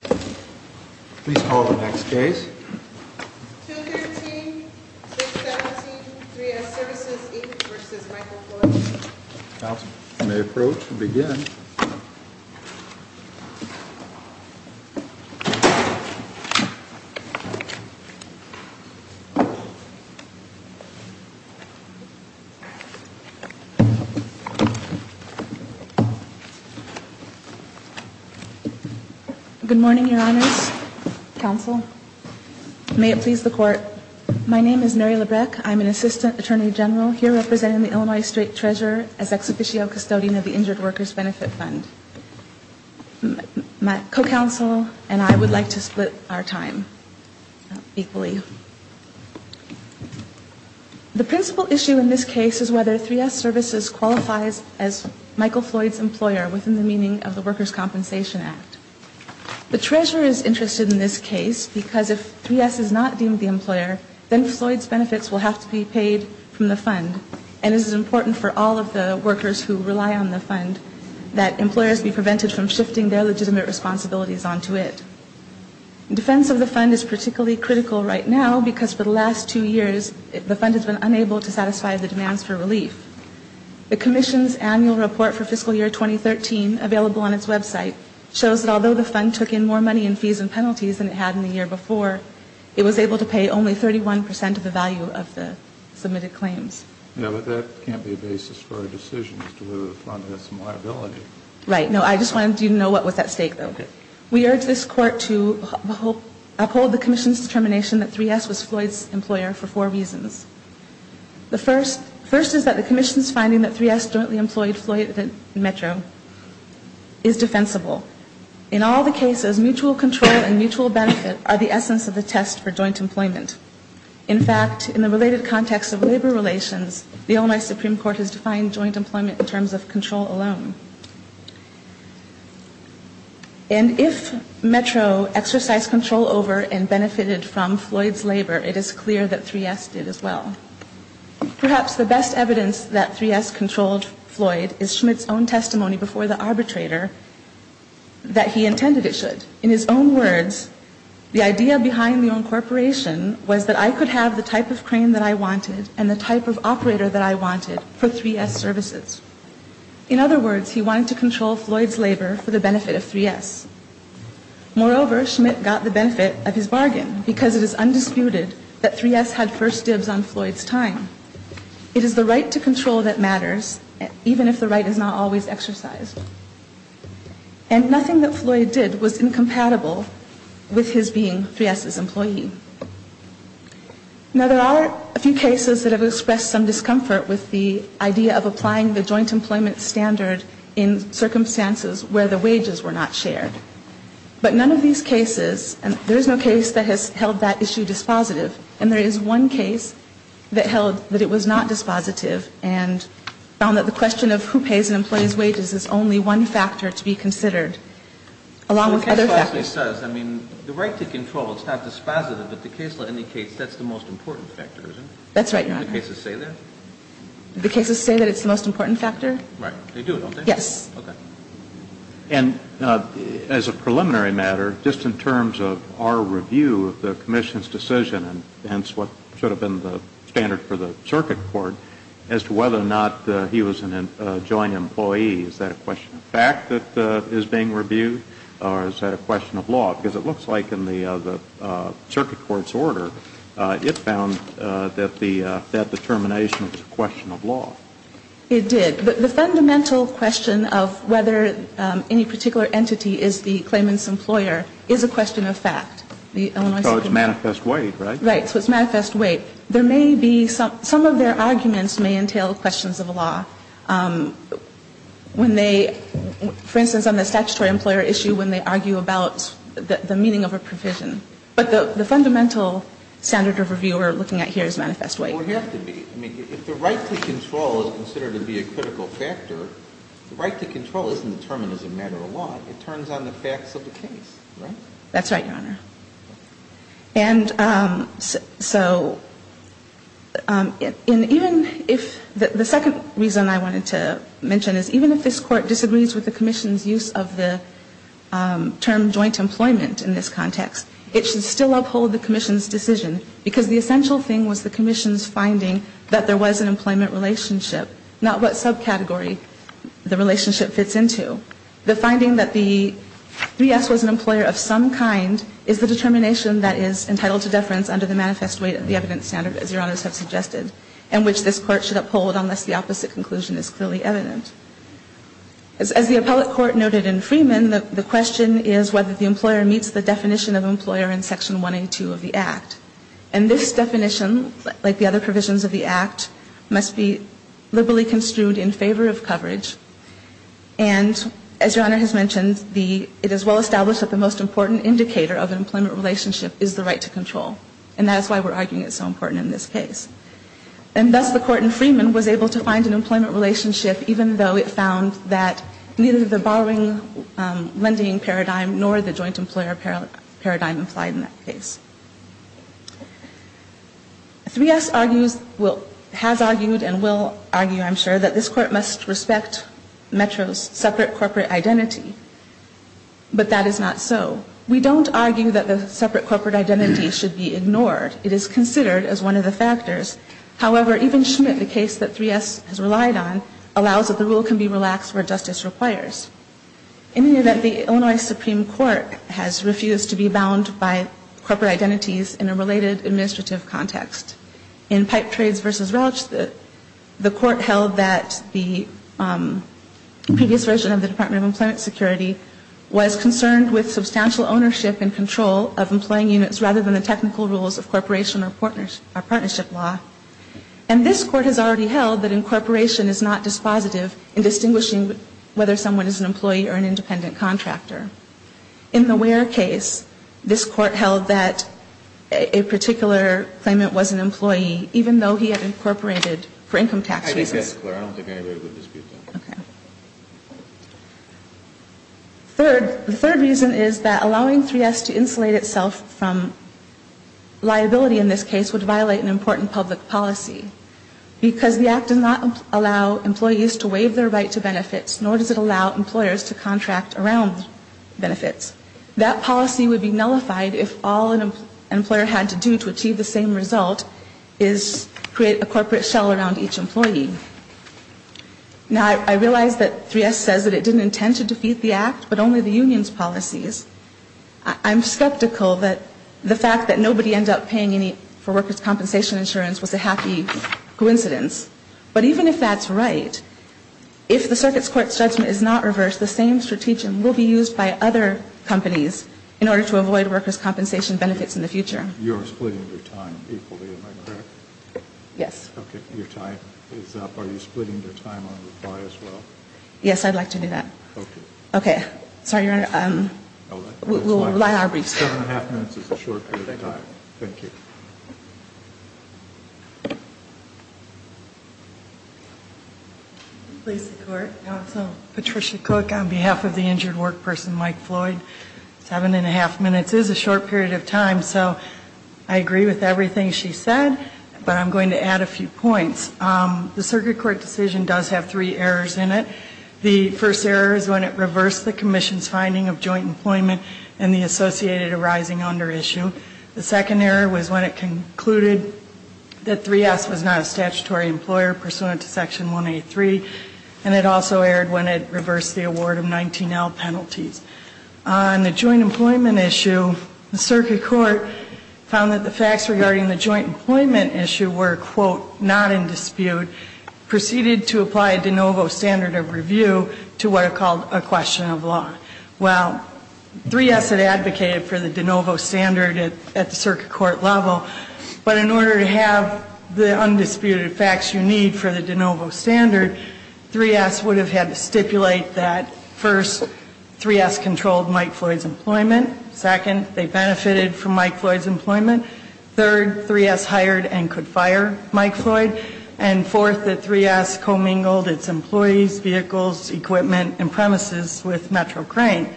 Please call the next case. 213-617-3S Services, Inc. v. Michael Floyd May approach and begin. Good morning, Your Honors. Counsel. My name is Mary Labreck. I'm an Assistant Attorney General here representing the Illinois State Treasurer as Ex Officio Custodian of the Injured Workers' Benefit Fund. My co-counsel and I would like to split our time equally. The principal issue in this case is whether 3S Services qualifies as Michael Floyd's employer within the meaning of the Workers' Compensation Act. The Treasurer is interested in this case because if 3S is not deemed the employer, then Floyd's benefits will have to be paid from the fund. And it is important for all of the workers who rely on the fund that employers be prevented from shifting their legitimate responsibilities onto it. Defense of the fund is particularly critical right now because for the last two years, the fund has been unable to satisfy the demands for relief. The Commission's annual report for fiscal year 2013, available on its website, shows that although the fund took in more money in fees and penalties than it had in the year before, it was able to pay only 31% of the value of the submitted claims. Yeah, but that can't be a basis for a decision as to whether the fund has some liability. Right. No, I just wanted you to know what was at stake, though. We urge this Court to uphold the Commission's determination that 3S was Floyd's employer for four reasons. The first is that the Commission's finding that 3S jointly employed Floyd in Metro is defensible. In all the cases, mutual control and mutual benefit are the essence of the test for joint employment. In fact, in the related context of labor relations, the Illinois Supreme Court has defined joint employment in terms of control alone. And if Metro exercised control over and benefited from Floyd's labor, it is clear that 3S did as well. Perhaps the best evidence that 3S controlled Floyd is Schmidt's own testimony before the arbitrator that he intended it should. In his own words, the idea behind the incorporation was that I could have the type of crane that I wanted and the type of operator that I wanted for 3S services. In other words, he wanted to control Floyd's labor for the benefit of 3S. Moreover, Schmidt got the benefit of his bargain because it is undisputed that 3S had first dibs on Floyd's time. It is the right to control that matters, even if the right is not always exercised. And nothing that Floyd did was incompatible with his being 3S's employee. Now, there are a few cases that have expressed some discomfort with the idea of applying the joint employment standard in circumstances where the wages were not shared. But none of these cases, and there is no case that has held that issue dispositive, and there is one case that held that it was not dispositive and found that the question of who pays an employee's wages is only one factor to be considered, along with other factors. The case says, I mean, the right to control, it's not dispositive, but the case law indicates that's the most important factor, isn't it? That's right, Your Honor. Do the cases say that? Do the cases say that it's the most important factor? Right. They do, don't they? Yes. Okay. And as a preliminary matter, just in terms of our review of the Commission's decision, and hence what should have been the standard for the Circuit Court, as to whether or not he was a joint employee, is that a question of fact that is being reviewed, or is that a question of law? Because it looks like in the Circuit Court's order, it found that that determination was a question of law. It did. The fundamental question of whether any particular entity is the claimant's employer is a question of fact. So it's manifest weight, right? Right. So it's manifest weight. There may be some of their arguments may entail questions of law. When they, for instance, on the statutory employer issue, when they argue about the meaning of a provision. But the fundamental standard of review we're looking at here is manifest weight. Well, it would have to be. I mean, if the right to control is considered to be a critical factor, the right to control isn't determined as a matter of law. It turns on the facts of the case, right? That's right, Your Honor. And so, and even if, the second reason I wanted to mention is even if this Court disagrees with the Commission's use of the term joint employment in this context, it should still uphold the Commission's decision, because the essential thing was the Commission's finding that there was an employment relationship, not what subcategory the relationship fits into. The finding that the 3S was an employer of some kind is the determination that is entitled to deference under the manifest weight of the evidence standard, as Your Honors have suggested, and which this Court should uphold unless the opposite conclusion is clearly evident. As the appellate court noted in Freeman, the question is whether the employer meets the definition of employer in Section 182 of the Act. And this definition, like the other provisions of the Act, must be liberally construed in favor of coverage. And as Your Honor has mentioned, it is well established that the most important indicator of an employment relationship is the right to control. And that is why we're arguing it's so important in this case. And thus, the Court in Freeman was able to find an employment relationship, even though it found that neither the borrowing lending paradigm nor the joint employer paradigm applied in that case. 3S has argued and will argue, I'm sure, that this Court must respect Metro's separate corporate identity. But that is not so. We don't argue that the separate corporate identity should be ignored. It is considered as one of the factors. However, even Schmidt, the case that 3S has relied on, allows that the rule can be relaxed where justice requires. In any event, the Illinois Supreme Court has refused to be bound by corporate identities in a related administrative context. In Pipe Trades v. Relich, the Court held that the previous version of the Department of Employment Security was concerned with substantial ownership and control of employing units rather than the technical rules of corporation or partnership law. And this Court has already held that incorporation is not dispositive in distinguishing whether someone is an employee or an independent contractor. In the Ware case, this Court held that a particular claimant was an employee, even though he had incorporated for income tax reasons. I think that's clear. I don't think anybody would dispute that. Okay. Third, the third reason is that allowing 3S to insulate itself from liability in this case would violate an important public policy, because the Act does not allow employees to waive their right to benefits, nor does it allow employers to contract around benefits. That policy would be nullified if all an employer had to do to achieve the same result is create a corporate shell around each employee. Now, I realize that 3S says that it didn't intend to defeat the Act, but only the union's policies. I'm skeptical that the fact that nobody ended up paying any for workers' compensation insurance was a happy coincidence. But even if that's right, if the Circuit's Court's judgment is not reversed, the same strategy will be used by other companies in order to avoid workers' compensation benefits in the future. You're splitting your time equally, am I correct? Yes. Okay. Your time is up. Are you splitting your time on reply as well? Yes, I'd like to do that. Okay. Okay. Sorry, Your Honor. We'll rely on our briefs. Seven and a half minutes is a short period of time. Thank you. Please support counsel Patricia Cook on behalf of the injured work person, Mike Floyd. Seven and a half minutes is a short period of time, so I agree with everything she said, but I'm going to add a few points. The Circuit Court decision does have three errors in it. The first error is when it reversed the Commission's finding of joint employment and the associated arising under issue. The second error was when it concluded that 3S was not a statutory employer pursuant to Section 183, and it also erred when it reversed the award of 19L penalties. On the joint employment issue, the Circuit Court found that the facts regarding the joint employment issue were, quote, not in dispute, proceeded to apply a de novo standard of review to what are called a question of law. Well, 3S had advocated for the de novo standard at the Circuit Court level, but in order to have the undisputed facts you need for the de novo standard, 3S would have had to stipulate that, first, 3S controlled Mike Floyd's employment, second, they benefited from Mike Floyd's employment, third, 3S hired and could fire Mike Floyd, and fourth, that 3S commingled its employees, vehicles, equipment, and premises with Metro Crane.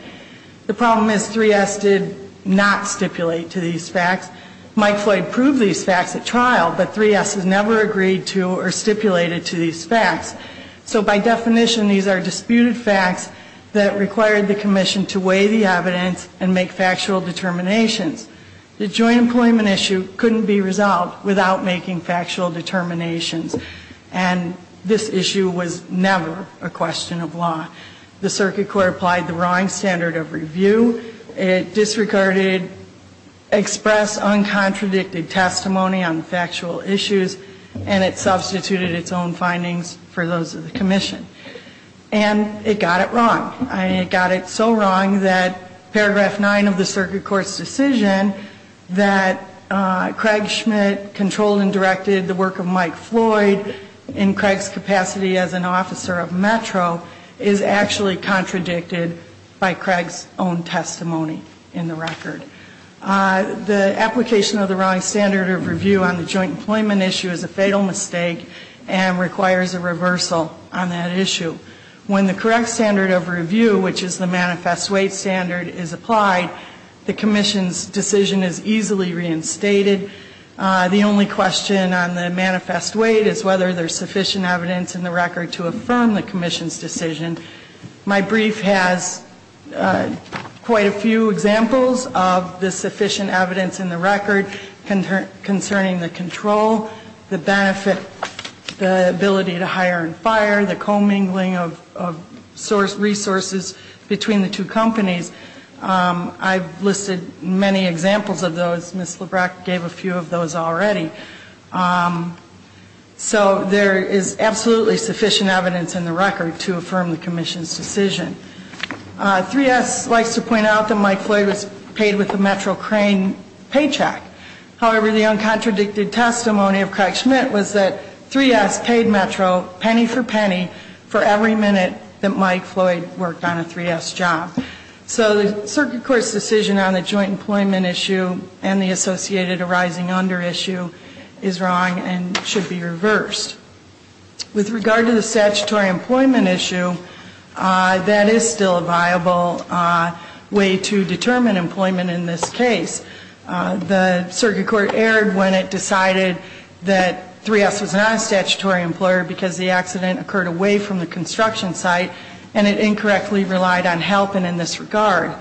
The problem is 3S did not stipulate to these facts. Mike Floyd proved these facts at trial, but 3S has never agreed to or stipulated to these facts. So by definition, these are disputed facts that required the Commission to weigh the evidence and make factual determinations. The joint employment issue couldn't be resolved without making factual determinations, and this issue was never a question of law. The Circuit Court applied the wrong standard of review. It disregarded expressed, uncontradicted testimony on factual issues, and it substituted its own findings for those of the Commission. And it got it wrong. It got it so wrong that paragraph 9 of the Circuit Court's decision that Craig Schmidt controlled and directed the work of Mike Floyd in Craig's capacity as an officer of Metro is actually contradicted by Craig's own testimony in the record. The application of the wrong standard of review on the joint employment issue is a fatal mistake and requires a reversal on that issue. When the correct standard of review, which is the manifest weight standard, is applied, the Commission's decision is easily reinstated. The only question on the manifest weight is whether there's sufficient evidence in the record to affirm the Commission's decision. My brief has quite a few examples of the sufficient evidence in the record concerning the control, the benefit, the ability to hire and fire, the commingling of resources between the two companies. I've listed many examples of those. Ms. Labreck gave a few of those already. So there is absolutely sufficient evidence in the record to affirm the Commission's decision. 3S likes to point out that Mike Floyd was paid with a Metro Crane paycheck. However, the uncontradicted testimony of Craig Schmidt was that 3S paid Metro penny for penny for every minute that Mike Floyd worked on a 3S job. So the circuit court's decision on the joint employment issue and the associated arising under issue is wrong and should be reversed. With regard to the statutory employment issue, that is still a viable way to determine employment in this case. The circuit court erred when it decided that 3S was not a statutory employer because the accident occurred away from the construction site, and it incorrectly relied on help and in this regard.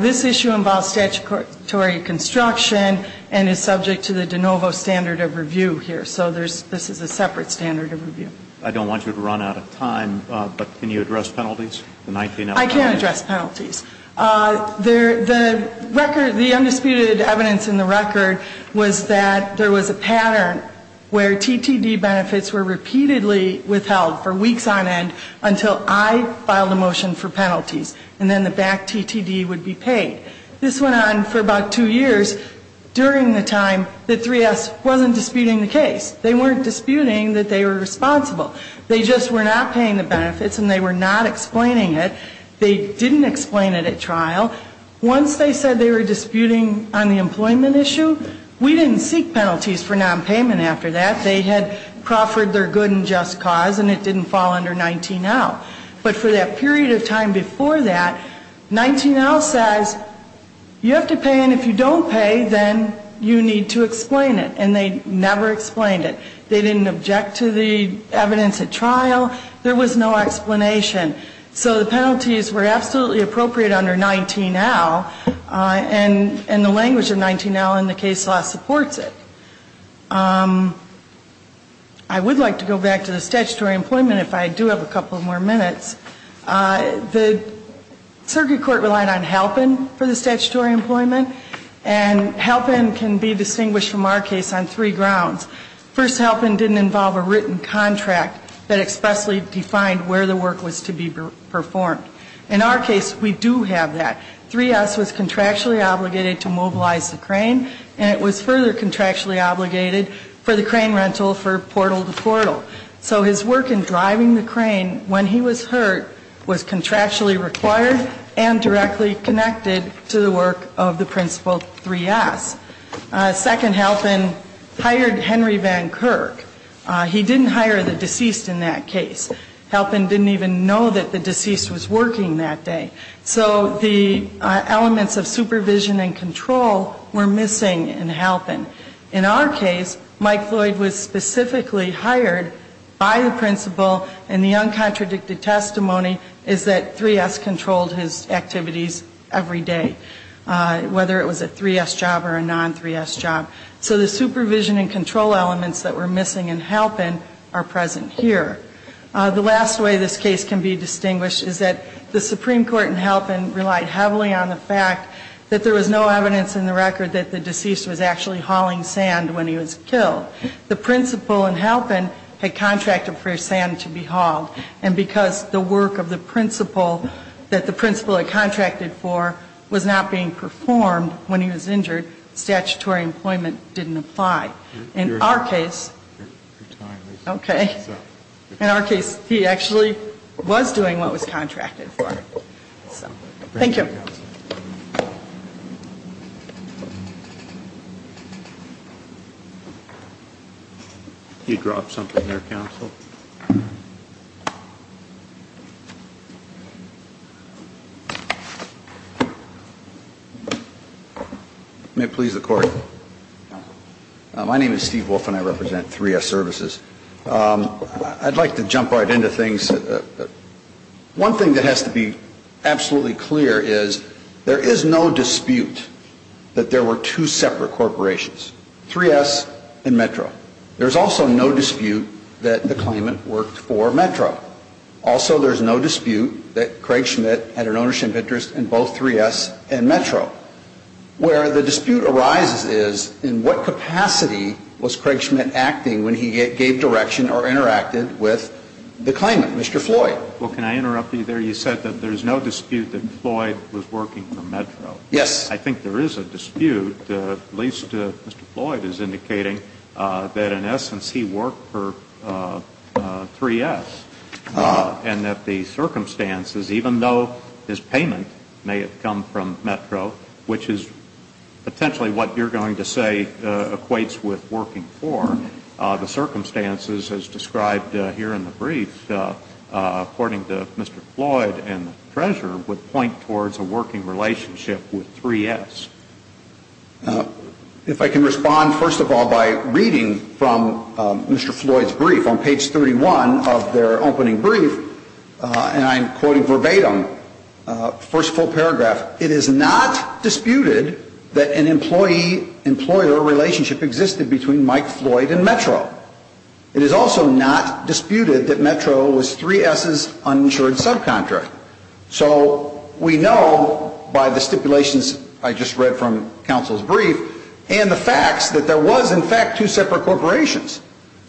This issue involves statutory construction and is subject to the de novo standard of review here. So this is a separate standard of review. I don't want you to run out of time, but can you address penalties? I can address penalties. The record, the undisputed evidence in the record was that there was a pattern where TTD benefits were repeatedly withheld for weeks on end until I filed a motion for penalties and then the back TTD would be paid. This went on for about two years during the time that 3S wasn't disputing the case. They weren't disputing that they were responsible. They just were not paying the benefits and they were not explaining it. They didn't explain it at trial. Once they said they were disputing on the employment issue, we didn't seek penalties for nonpayment after that. They had proffered their good and just cause and it didn't fall under 19L. But for that period of time before that, 19L says you have to pay and if you don't pay, then you need to explain it. And they never explained it. They didn't object to the evidence at trial. There was no explanation. So the penalties were absolutely appropriate under 19L and the language of 19L in the case law supports it. I would like to go back to the statutory employment if I do have a couple more minutes. The circuit court relied on helpin' for the statutory employment and helpin' can be distinguished from our case on three grounds. First, helpin' didn't involve a written contract that expressly defined where the work was to be performed. In our case, we do have that. 3S was contractually obligated to mobilize the crane and it was further contractually obligated for the crane rental for portal to portal. So his work in driving the crane when he was hurt was contractually required and directly connected to the work of the principal 3S. Second, helpin' hired Henry Van Kirk. He didn't hire the deceased in that case. Helpin' didn't even know that the deceased was working that day. So the elements of supervision and control were missing in helpin'. In our case, Mike Floyd was specifically hired by the principal and the uncontradicted testimony is that 3S controlled his activities every day, whether it was a 3S job or another. So the supervision and control elements that were missing in helpin' are present here. The last way this case can be distinguished is that the Supreme Court in helpin' relied heavily on the fact that there was no evidence in the record that the deceased was actually hauling sand when he was killed. The principal in helpin' had contracted for his sand to be hauled and because the work of the principal that the principal had contracted for was not being performed when he was injured, the statutory employment didn't apply. In our case, okay, in our case, he actually was doing what was contracted for. Thank you. You dropped something there, counsel. My name is Steve Wolf and I represent 3S Services. I'd like to jump right into things. One thing that has to be absolutely clear is there is no dispute that there were two separate corporations, 3S and Metro. There's also no dispute that the claimant worked for Metro. Also, there's no dispute that Craig Schmidt had an ownership interest in both 3S and Metro. Where the dispute arises is in what capacity was Craig Schmidt acting when he gave direction or interacted with the claimant, Mr. Floyd? Well, can I interrupt you there? You said that there's no dispute that Floyd was working for Metro. Yes. I think there is a dispute, at least Mr. Floyd is indicating, that in essence he worked for 3S and that the circumstances, even though his payment may have come from Metro, which is potentially what you're going to say equates with working for, the circumstances as described here in the brief, according to Mr. Floyd and the treasurer, would point towards a working relationship with 3S. If I can respond, first of all, by reading from Mr. Floyd's brief on page 31 of their opening brief, and I'm quoting verbatim the first full paragraph. It is not disputed that an employee-employer relationship existed between Mike Floyd and Metro. It is also not disputed that Metro was 3S's uninsured subcontract. So we know by the stipulations I just read from counsel's brief and the facts that there was, in fact, two separate corporations.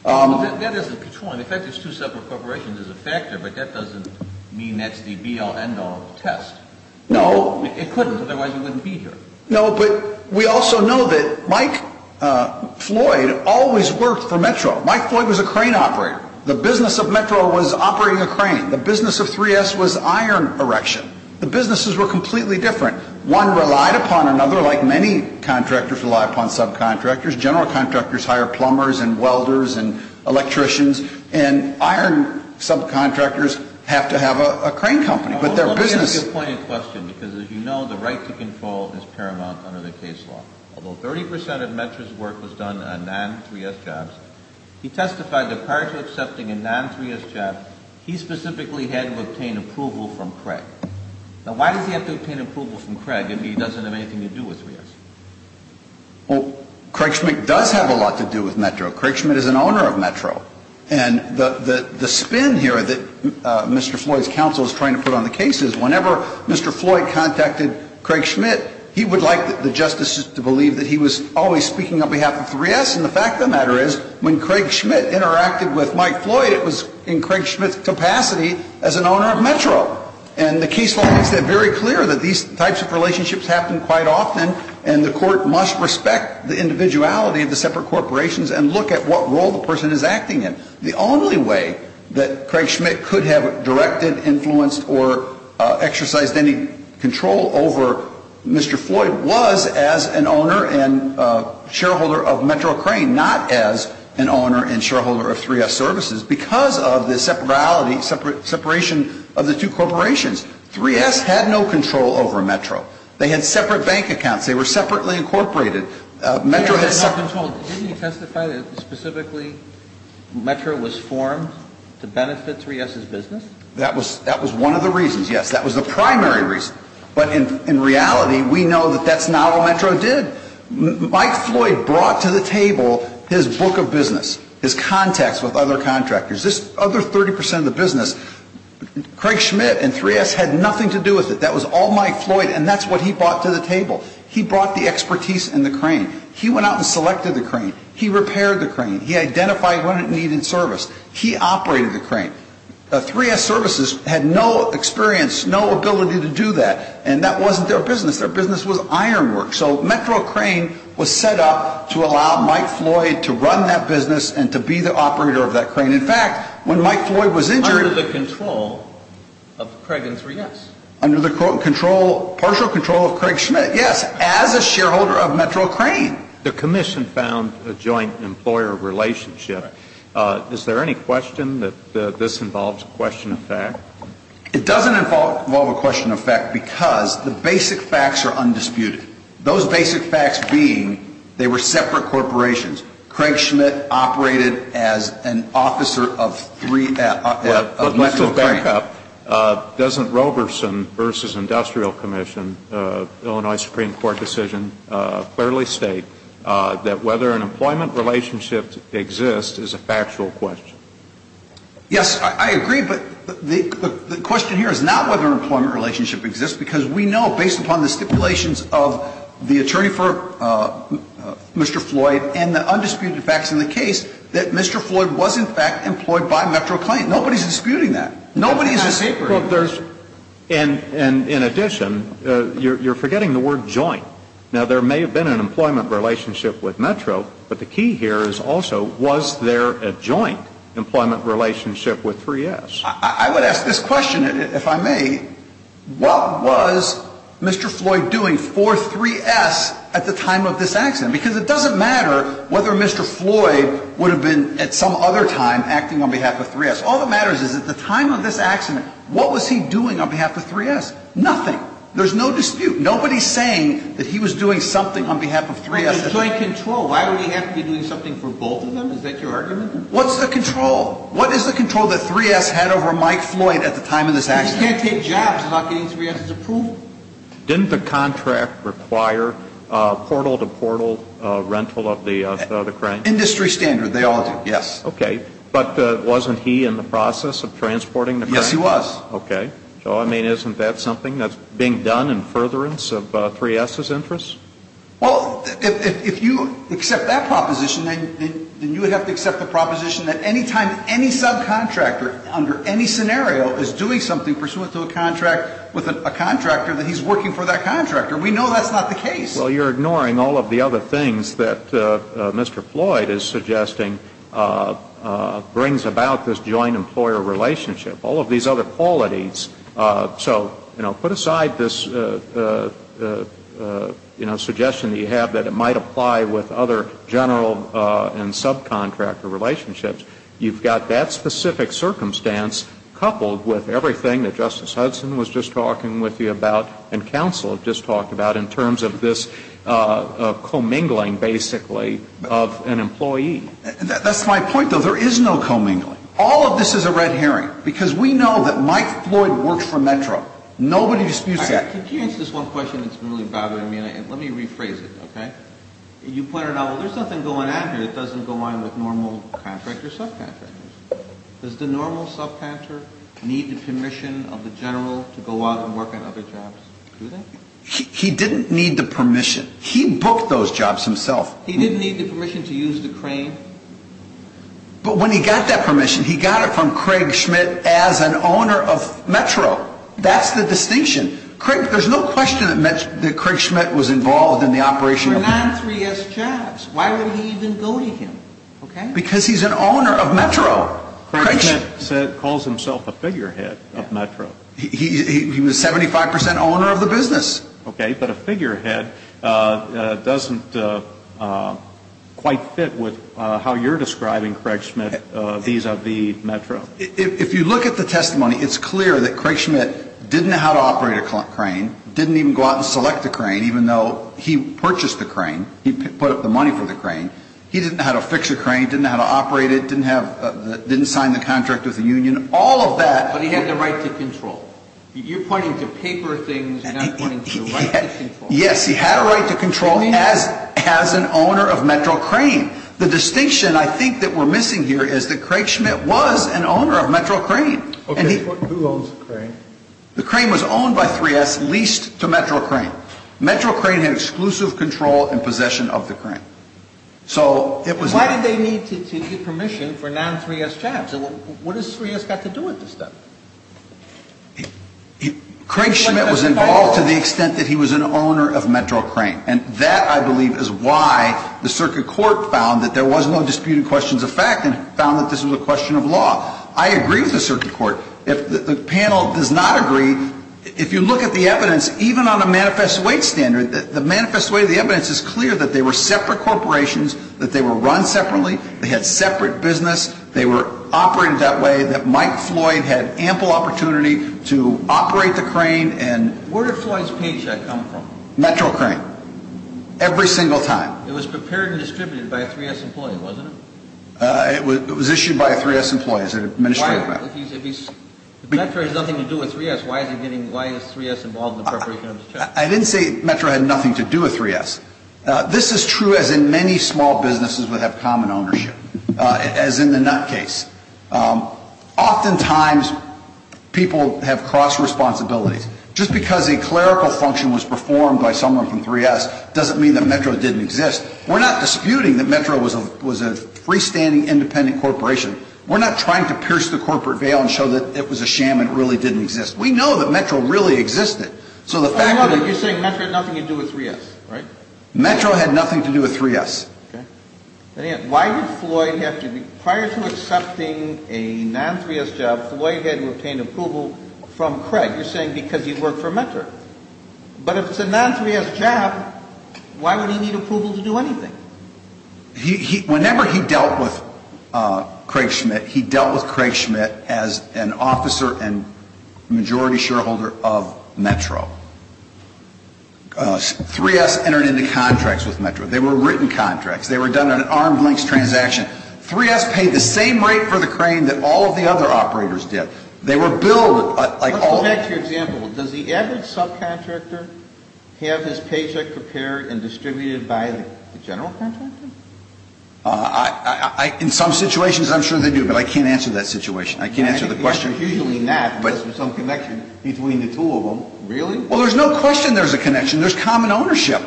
That is a patron. The fact there's two separate corporations is a factor, but that doesn't mean that's the be-all, end-all of the test. No. It couldn't, otherwise you wouldn't be here. No, but we also know that Mike Floyd always worked for Metro. Mike Floyd was a crane operator. The business of Metro was operating a crane. The business of 3S was iron erection. The businesses were completely different. One relied upon another, like many contractors rely upon subcontractors. General contractors hire plumbers and welders and electricians, and iron subcontractors have to have a crane company, but their business... Let me ask you a pointed question, because as you know, the right to control is paramount under the case law. Although 30 percent of Metro's work was done on non-3S jobs, he testified that prior to accepting a non-3S job, he specifically had to obtain approval from Craig. Now, why does he have to obtain approval from Craig if he doesn't have anything to do with 3S? Craig does have a lot to do with Metro. Craig Schmitt is an owner of Metro. And the spin here that Mr. Floyd's counsel is trying to put on the case is whenever Mr. Floyd contacted Craig Schmitt, he would like the justices to believe that he was always speaking on behalf of 3S. And the fact of the matter is when Craig Schmitt interacted with Mike Floyd, it was in Craig Schmitt's capacity as an owner of Metro. And the case law makes that very clear that these types of relationships happen quite often, and the court must respect the individuality of the separate corporations and look at what role the person is acting in. The only way that Craig Schmitt could have directed, influenced, or exercised any control over Mr. Floyd was as an owner and shareholder of Metro Crane, not as an owner and shareholder of 3S services. Because of the separation of the two corporations, 3S had no control over Metro. They had separate bank accounts. They were separately incorporated. Metro had separate... Didn't he testify that specifically Metro was formed to benefit 3S's business? That was one of the reasons, yes. That was the primary reason. But in reality, we know that that's not what Metro did. Mike Floyd brought to the table his book of business, his contacts with other contractors. This other 30% of the business, Craig Schmitt and 3S had nothing to do with it. That was all Mike Floyd. And that's what he brought to the table. He brought the expertise in the crane. He went out and selected the crane. He repaired the crane. He identified when it needed service. He operated the crane. 3S services had no experience, no ability to do that. And that wasn't their business. Their business was iron work. So Metro Crane was set up to allow Mike Floyd to run that business and to be the operator of that crane. In fact, when Mike Floyd was injured... Under the control of Craig and 3S. Under the partial control of Craig Schmitt, yes, as a shareholder of Metro Crane. The commission found a joint employer relationship. Is there any question that this involves question of fact? It doesn't involve a question of fact because the basic facts are undisputed. Those basic facts being they were separate corporations. Craig Schmitt operated as an officer of 3S. Doesn't Roberson v. Industrial Commission, Illinois Supreme Court decision, fairly state that whether an employment relationship exists is a factual question? Yes, I agree, but the question here is not whether an employment relationship exists because we know based upon the stipulations of the attorney for Mr. Floyd and the undisputed facts in the case that Mr. Floyd was in fact employed by Metro Crane. Nobody's disputing that. Nobody's disputing that. In addition, you're forgetting the word joint. Now, there may have been an employment relationship with Metro, but the key here is also was there a joint employment relationship with 3S? I would ask this question, if I may. What was Mr. Floyd doing for 3S at the time of this accident? Because it doesn't matter whether Mr. Floyd would have been at some other time acting on behalf of 3S. All that matters is at the time of this accident, what was he doing on behalf of 3S? Nothing. There's no dispute. Nobody's saying that he was doing something on behalf of 3S. Why would he have to be doing something for both of them? Is that your argument? What's the control? What is the control that 3S had over Mike Floyd at the time of this accident? I mean, you can't take jobs without getting 3S's approval. Didn't the contract require portal-to-portal rental of the crane? Industry standard, they all do, yes. Okay. But wasn't he in the process of transporting the crane? Yes, he was. Okay. So, I mean, isn't that something that's being done in furtherance of 3S's interests? Well, if you accept that proposition, then you would have to accept the proposition that any time any subcontractor under any scenario is doing something pursuant to a contract with a contractor, that he's working for that contractor. We know that's not the case. Well, you're ignoring all of the other things that Mr. Floyd is suggesting brings about this joint employer relationship. All of these other qualities. So, you know, put aside this, you know, suggestion that you have that it might apply with other general and subcontractor relationships. You've got that specific circumstance coupled with everything that Justice Hudson was just talking with you about and counsel just talked about in terms of this commingling, basically, of an employee. That's my point, though. There is no commingling. All of this is a red herring because we know that Mike Floyd works for Metro. Nobody disputes that. Could you answer this one question that's really bothering me? And let me rephrase it, okay? You pointed out, well, there's nothing going on here that doesn't go on with normal contractor subcontractors. Does the normal subcontractor need the permission of the general to go out and work on other jobs? Do they? He didn't need the permission. He booked those jobs himself. He didn't need the permission to use the crane? But when he got that permission, he got it from Craig Schmidt as an owner of Metro. That's the distinction. Craig, there's no question that Craig Schmidt was involved in the operation. For non-3S jobs. Why would he even go to him, okay? Because he's an owner of Metro. Craig Schmidt calls himself a figurehead of Metro. He was 75 percent owner of the business. Okay, but a figurehead doesn't quite fit with how you're describing Craig Schmidt vis-à-vis Metro. If you look at the testimony, it's clear that Craig Schmidt didn't know how to operate a crane, didn't even go out and select a crane, even though he purchased the crane. He put up the money for the crane. He didn't know how to fix the crane, didn't know how to operate it, didn't have, didn't sign the contract with the union. But he had the right to control. You're pointing to paper things, you're not pointing to the right to control. Yes, he had a right to control as an owner of Metro Crane. The distinction I think that we're missing here is that Craig Schmidt was an owner of Metro Crane. Okay, who owns the crane? The crane was owned by 3S, leased to Metro Crane. Why did they need to get permission for non-3S jobs? What has 3S got to do with this stuff? Craig Schmidt was involved to the extent that he was an owner of Metro Crane. And that, I believe, is why the circuit court found that there was no disputed questions of fact and found that this was a question of law. I agree with the circuit court. If the panel does not agree, if you look at the evidence, even on a manifest weight standard, the manifest weight of the evidence is clear that they were separate corporations, that they were run separately, they had separate business, they were operated that way, that Mike Floyd had ample opportunity to operate the crane and... Where did Floyd's paycheck come from? Metro Crane. Every single time. It was prepared and distributed by a 3S employee, wasn't it? It was issued by a 3S employee as an administrative matter. If Metro has nothing to do with 3S, why is 3S involved in the preparation of the check? I didn't say Metro had nothing to do with 3S. This is true as in many small businesses would have common ownership, as in the nut case. Oftentimes, people have cross-responsibilities. Just because a clerical function was performed by someone from 3S doesn't mean that Metro didn't exist. We're not disputing that Metro was a freestanding independent corporation. We're not trying to pierce the corporate veil and show that it was a sham and really didn't exist. We know that Metro really existed. So the fact that... You're saying Metro had nothing to do with 3S, right? Metro had nothing to do with 3S. Okay. Why did Floyd have to be... Prior to accepting a non-3S job, Floyd had to obtain approval from Craig. You're saying because he worked for Metro. But if it's a non-3S job, why would he need approval to do anything? Whenever he dealt with Craig Schmidt, he dealt with Craig Schmidt as an officer and majority shareholder of Metro. 3S entered into contracts with Metro. They were written contracts. They were done on an arm's length transaction. 3S paid the same rate for the crane that all of the other operators did. They were billed like all... Go back to your example. Does the average subcontractor have his paycheck prepared and distributed by the general contractor? In some situations, I'm sure they do. But I can't answer that situation. I can't answer the question. Usually not because there's some connection between the two of them. Really? Well, there's no question there's a connection. There's common ownership.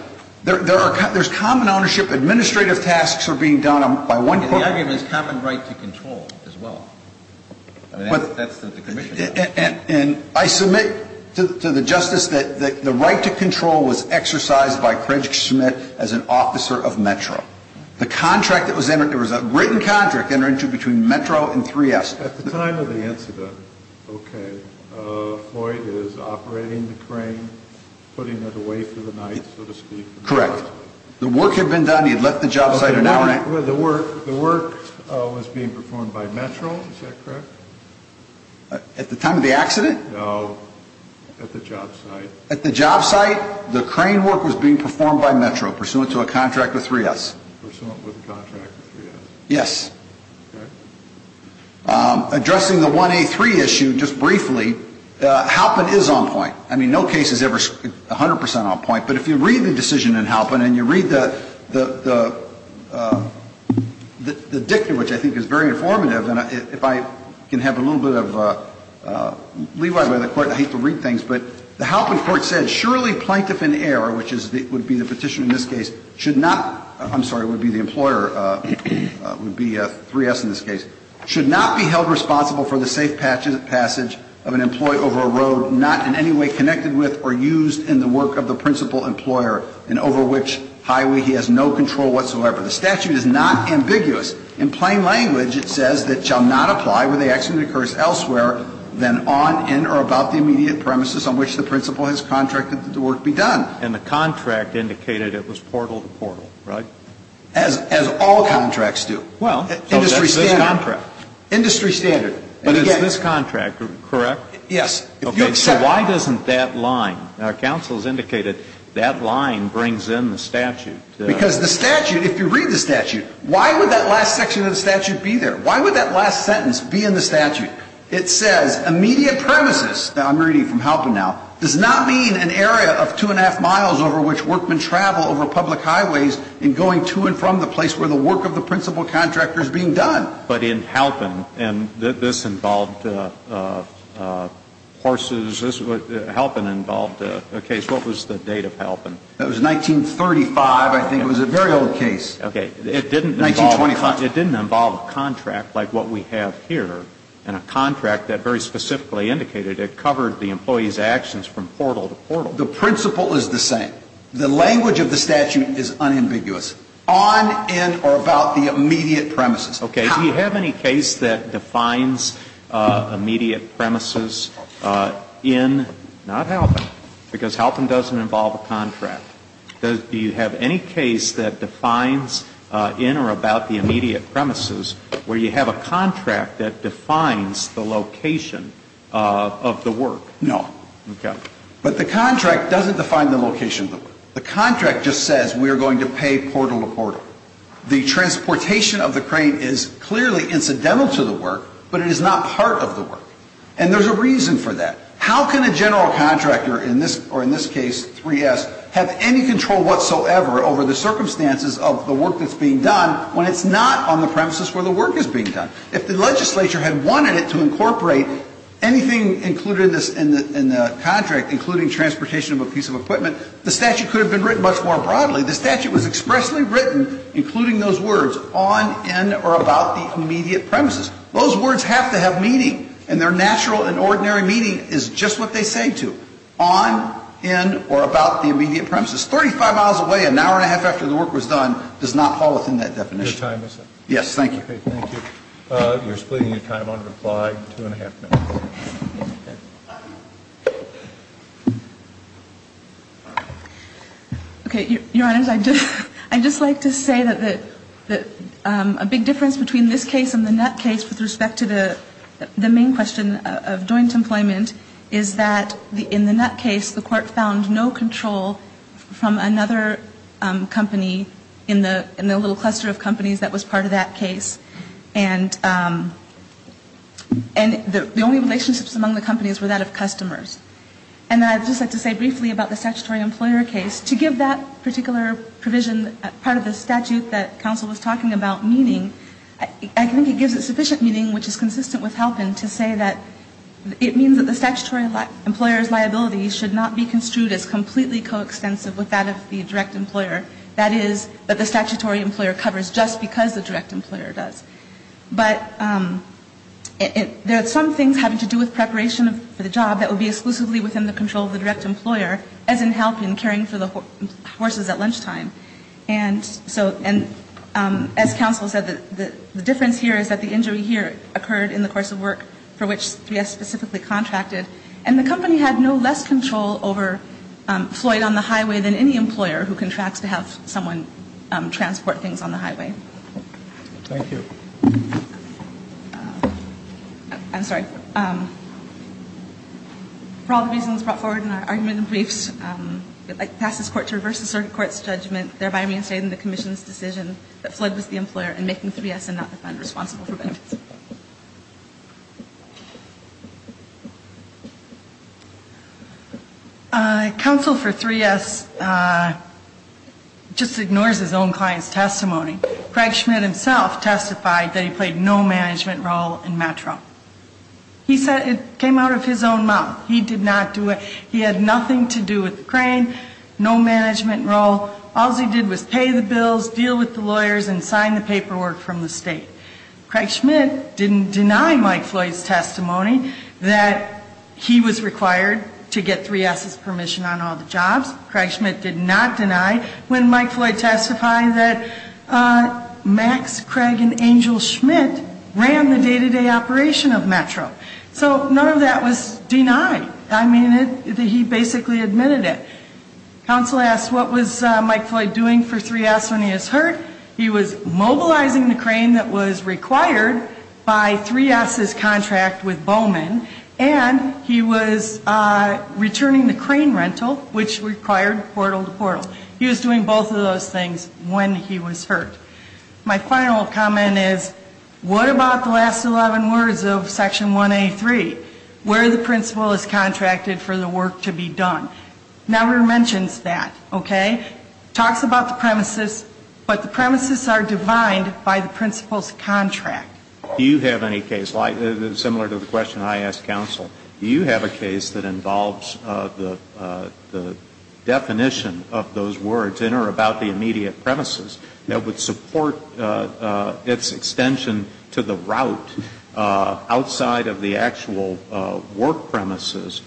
There's common ownership. Administrative tasks are being done by one... The argument is common right to control as well. That's what the commission... And I submit to the justice that the right to control was exercised by Craig Schmidt as an officer of Metro. The contract that was entered, there was a written contract entered into between Metro and 3S. At the time of the incident, okay, Floyd is operating the crane, putting it away for the night, so to speak. Correct. The work had been done. He had left the job site an hour... The work was being performed by Metro. Is that correct? At the time of the accident? No, at the job site. At the job site, the crane work was being performed by Metro pursuant to a contract with 3S. Pursuant with contract with 3S. Yes. Okay. Addressing the 1A3 issue just briefly, Halpin is on point. I mean, no case is ever 100% on point. But if you read the decision in Halpin and you read the dictum, which I think is very informative, and if I can have a little bit of leeway by the Court, I hate to read things, but the Halpin Court said, surely plaintiff in error, which would be the petitioner in this case, should not, I'm sorry, would be the employer, would be 3S in this case, should not be held responsible for the safe passage of an employee over a road not in any way connected with or used in the work of the principal employer and over which highway he has no control whatsoever. The statute is not ambiguous. In plain language, it says that shall not apply where the accident occurs elsewhere than on, in, or about the immediate premises on which the principal has contracted that the work be done. And the contract indicated it was portal to portal, right? As all contracts do. Well, so that's this contract. Industry standard. But is this contract correct? Yes. Okay. So why doesn't that line, our counsel has indicated that line brings in the statute. Because the statute, if you read the statute, why would that last section of the statute be there? Why would that last sentence be in the statute? It says immediate premises. I'm reading from Halpin now. Does not mean an area of two and a half miles over which workmen travel over public highways in going to and from the place where the work of the principal contractor is being done. But in Halpin, and this involved horses, Halpin involved a case. What was the date of Halpin? That was 1935, I think. It was a very old case. 1925. It didn't involve a contract like what we have here, and a contract that very specifically indicated it covered the employee's actions from portal to portal. The principal is the same. The language of the statute is unambiguous. On, in, or about the immediate premises. Okay. Do you have any case that defines immediate premises in, not Halpin, because Halpin doesn't involve a contract. Do you have any case that defines in or about the immediate premises where you have a contract that defines the location of the work? No. Okay. But the contract doesn't define the location of the work. The contract just says we are going to pay portal to portal. The transportation of the crane is clearly incidental to the work, but it is not part of the work. And there's a reason for that. How can a general contractor, or in this case 3S, have any control whatsoever over the circumstances of the work that's being done when it's not on the premises where the work is being done? If the legislature had wanted it to incorporate anything included in the contract, including transportation of a piece of equipment, the statute could have been written much more broadly. The statute was expressly written, including those words, on, in, or about the immediate premises. Those words have to have meaning, and their natural and ordinary meaning is just what they say to. On, in, or about the immediate premises. Thirty-five miles away, an hour and a half after the work was done does not fall within that definition. Your time is up. Yes. Thank you. Okay. Thank you. You're splitting your time on reply, two and a half minutes. Okay. Your Honor, I'd just like to say that a big difference between this case and the Nutt case with respect to the main question of joint employment is that in the Nutt case, the court found no control from another company in the little cluster of companies that was part of that case. And the only relationships among the companies were that of customers. And I'd just like to say briefly about the statutory employer case. To give that particular provision part of the statute that counsel was talking about meaning, I think it gives it sufficient meaning, which is consistent with Halpin, to say that it means that the statutory employer's liability should not be construed as completely coextensive with that of the direct employer. That is, that the statutory employer covers just because the direct employer does. But there are some things having to do with preparation for the job that would be exclusively within the control of the direct employer, as in Halpin, caring for the horses at lunchtime. And as counsel said, the difference here is that the injury here occurred in the course of work for which 3S specifically contracted. And the company had no less control over Floyd on the highway than any employer who contracts to have someone transport things on the highway. Thank you. I'm sorry. For all the reasons brought forward in our argument and briefs, I pass this court to reverse the circuit court's judgment, thereby reinstating the commission's decision that Floyd was the employer and making 3S and not the fund responsible for benefits. Counsel for 3S just ignores his own client's testimony. Craig Schmidt himself testified that he played no management role in Metro. He said it came out of his own mouth. He did not do it. He had nothing to do with the crane, no management role. All he did was pay the bills, deal with the lawyers, and sign the paperwork from the state. Craig Schmidt didn't deny Mike Floyd's testimony that he was required to get 3S's permission on all the jobs. Craig Schmidt did not deny when Mike Floyd testified that Max Craig and Angel Schmidt ran the day-to-day operation of Metro. So none of that was denied. I mean, he basically admitted it. Counsel asked what was Mike Floyd doing for 3S when he was hurt. He was mobilizing the crane that was required by 3S's contract with Bowman, and he was returning the crane rental, which required portal to portal. He was doing both of those things when he was hurt. My final comment is, what about the last 11 words of Section 1A.3, where the principal is contracted for the work to be done. Never mentions that, okay? Talks about the premises, but the premises are defined by the principal's contract. Do you have any case, similar to the question I asked counsel, do you have a case that involves the definition of those words and or about the immediate premises that would support its extension to the route outside of the actual work premises,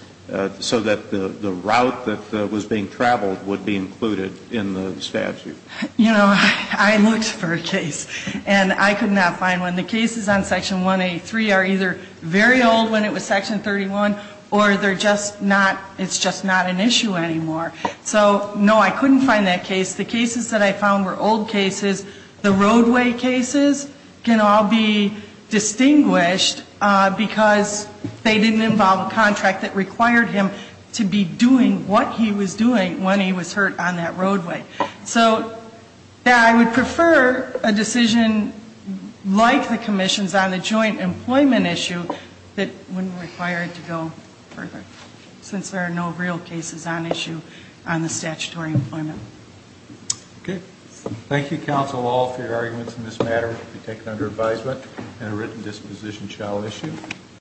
so that the route that was being traveled would be included in the statute? You know, I looked for a case, and I could not find one. The cases on Section 1A.3 are either very old when it was Section 31, or they're just not, it's just not an issue anymore. So, no, I couldn't find that case. The cases that I found were old cases. The roadway cases can all be distinguished because they didn't involve a contract that required him to be doing what he was doing when he was hurt on that roadway. So, yeah, I would prefer a decision like the commission's on the joint employment issue that wouldn't require it to go further, since there are no real cases on issue on the statutory employment. Okay. Thank you, counsel, all, for your arguments in this matter. We take it under advisement and a written disposition shall issue.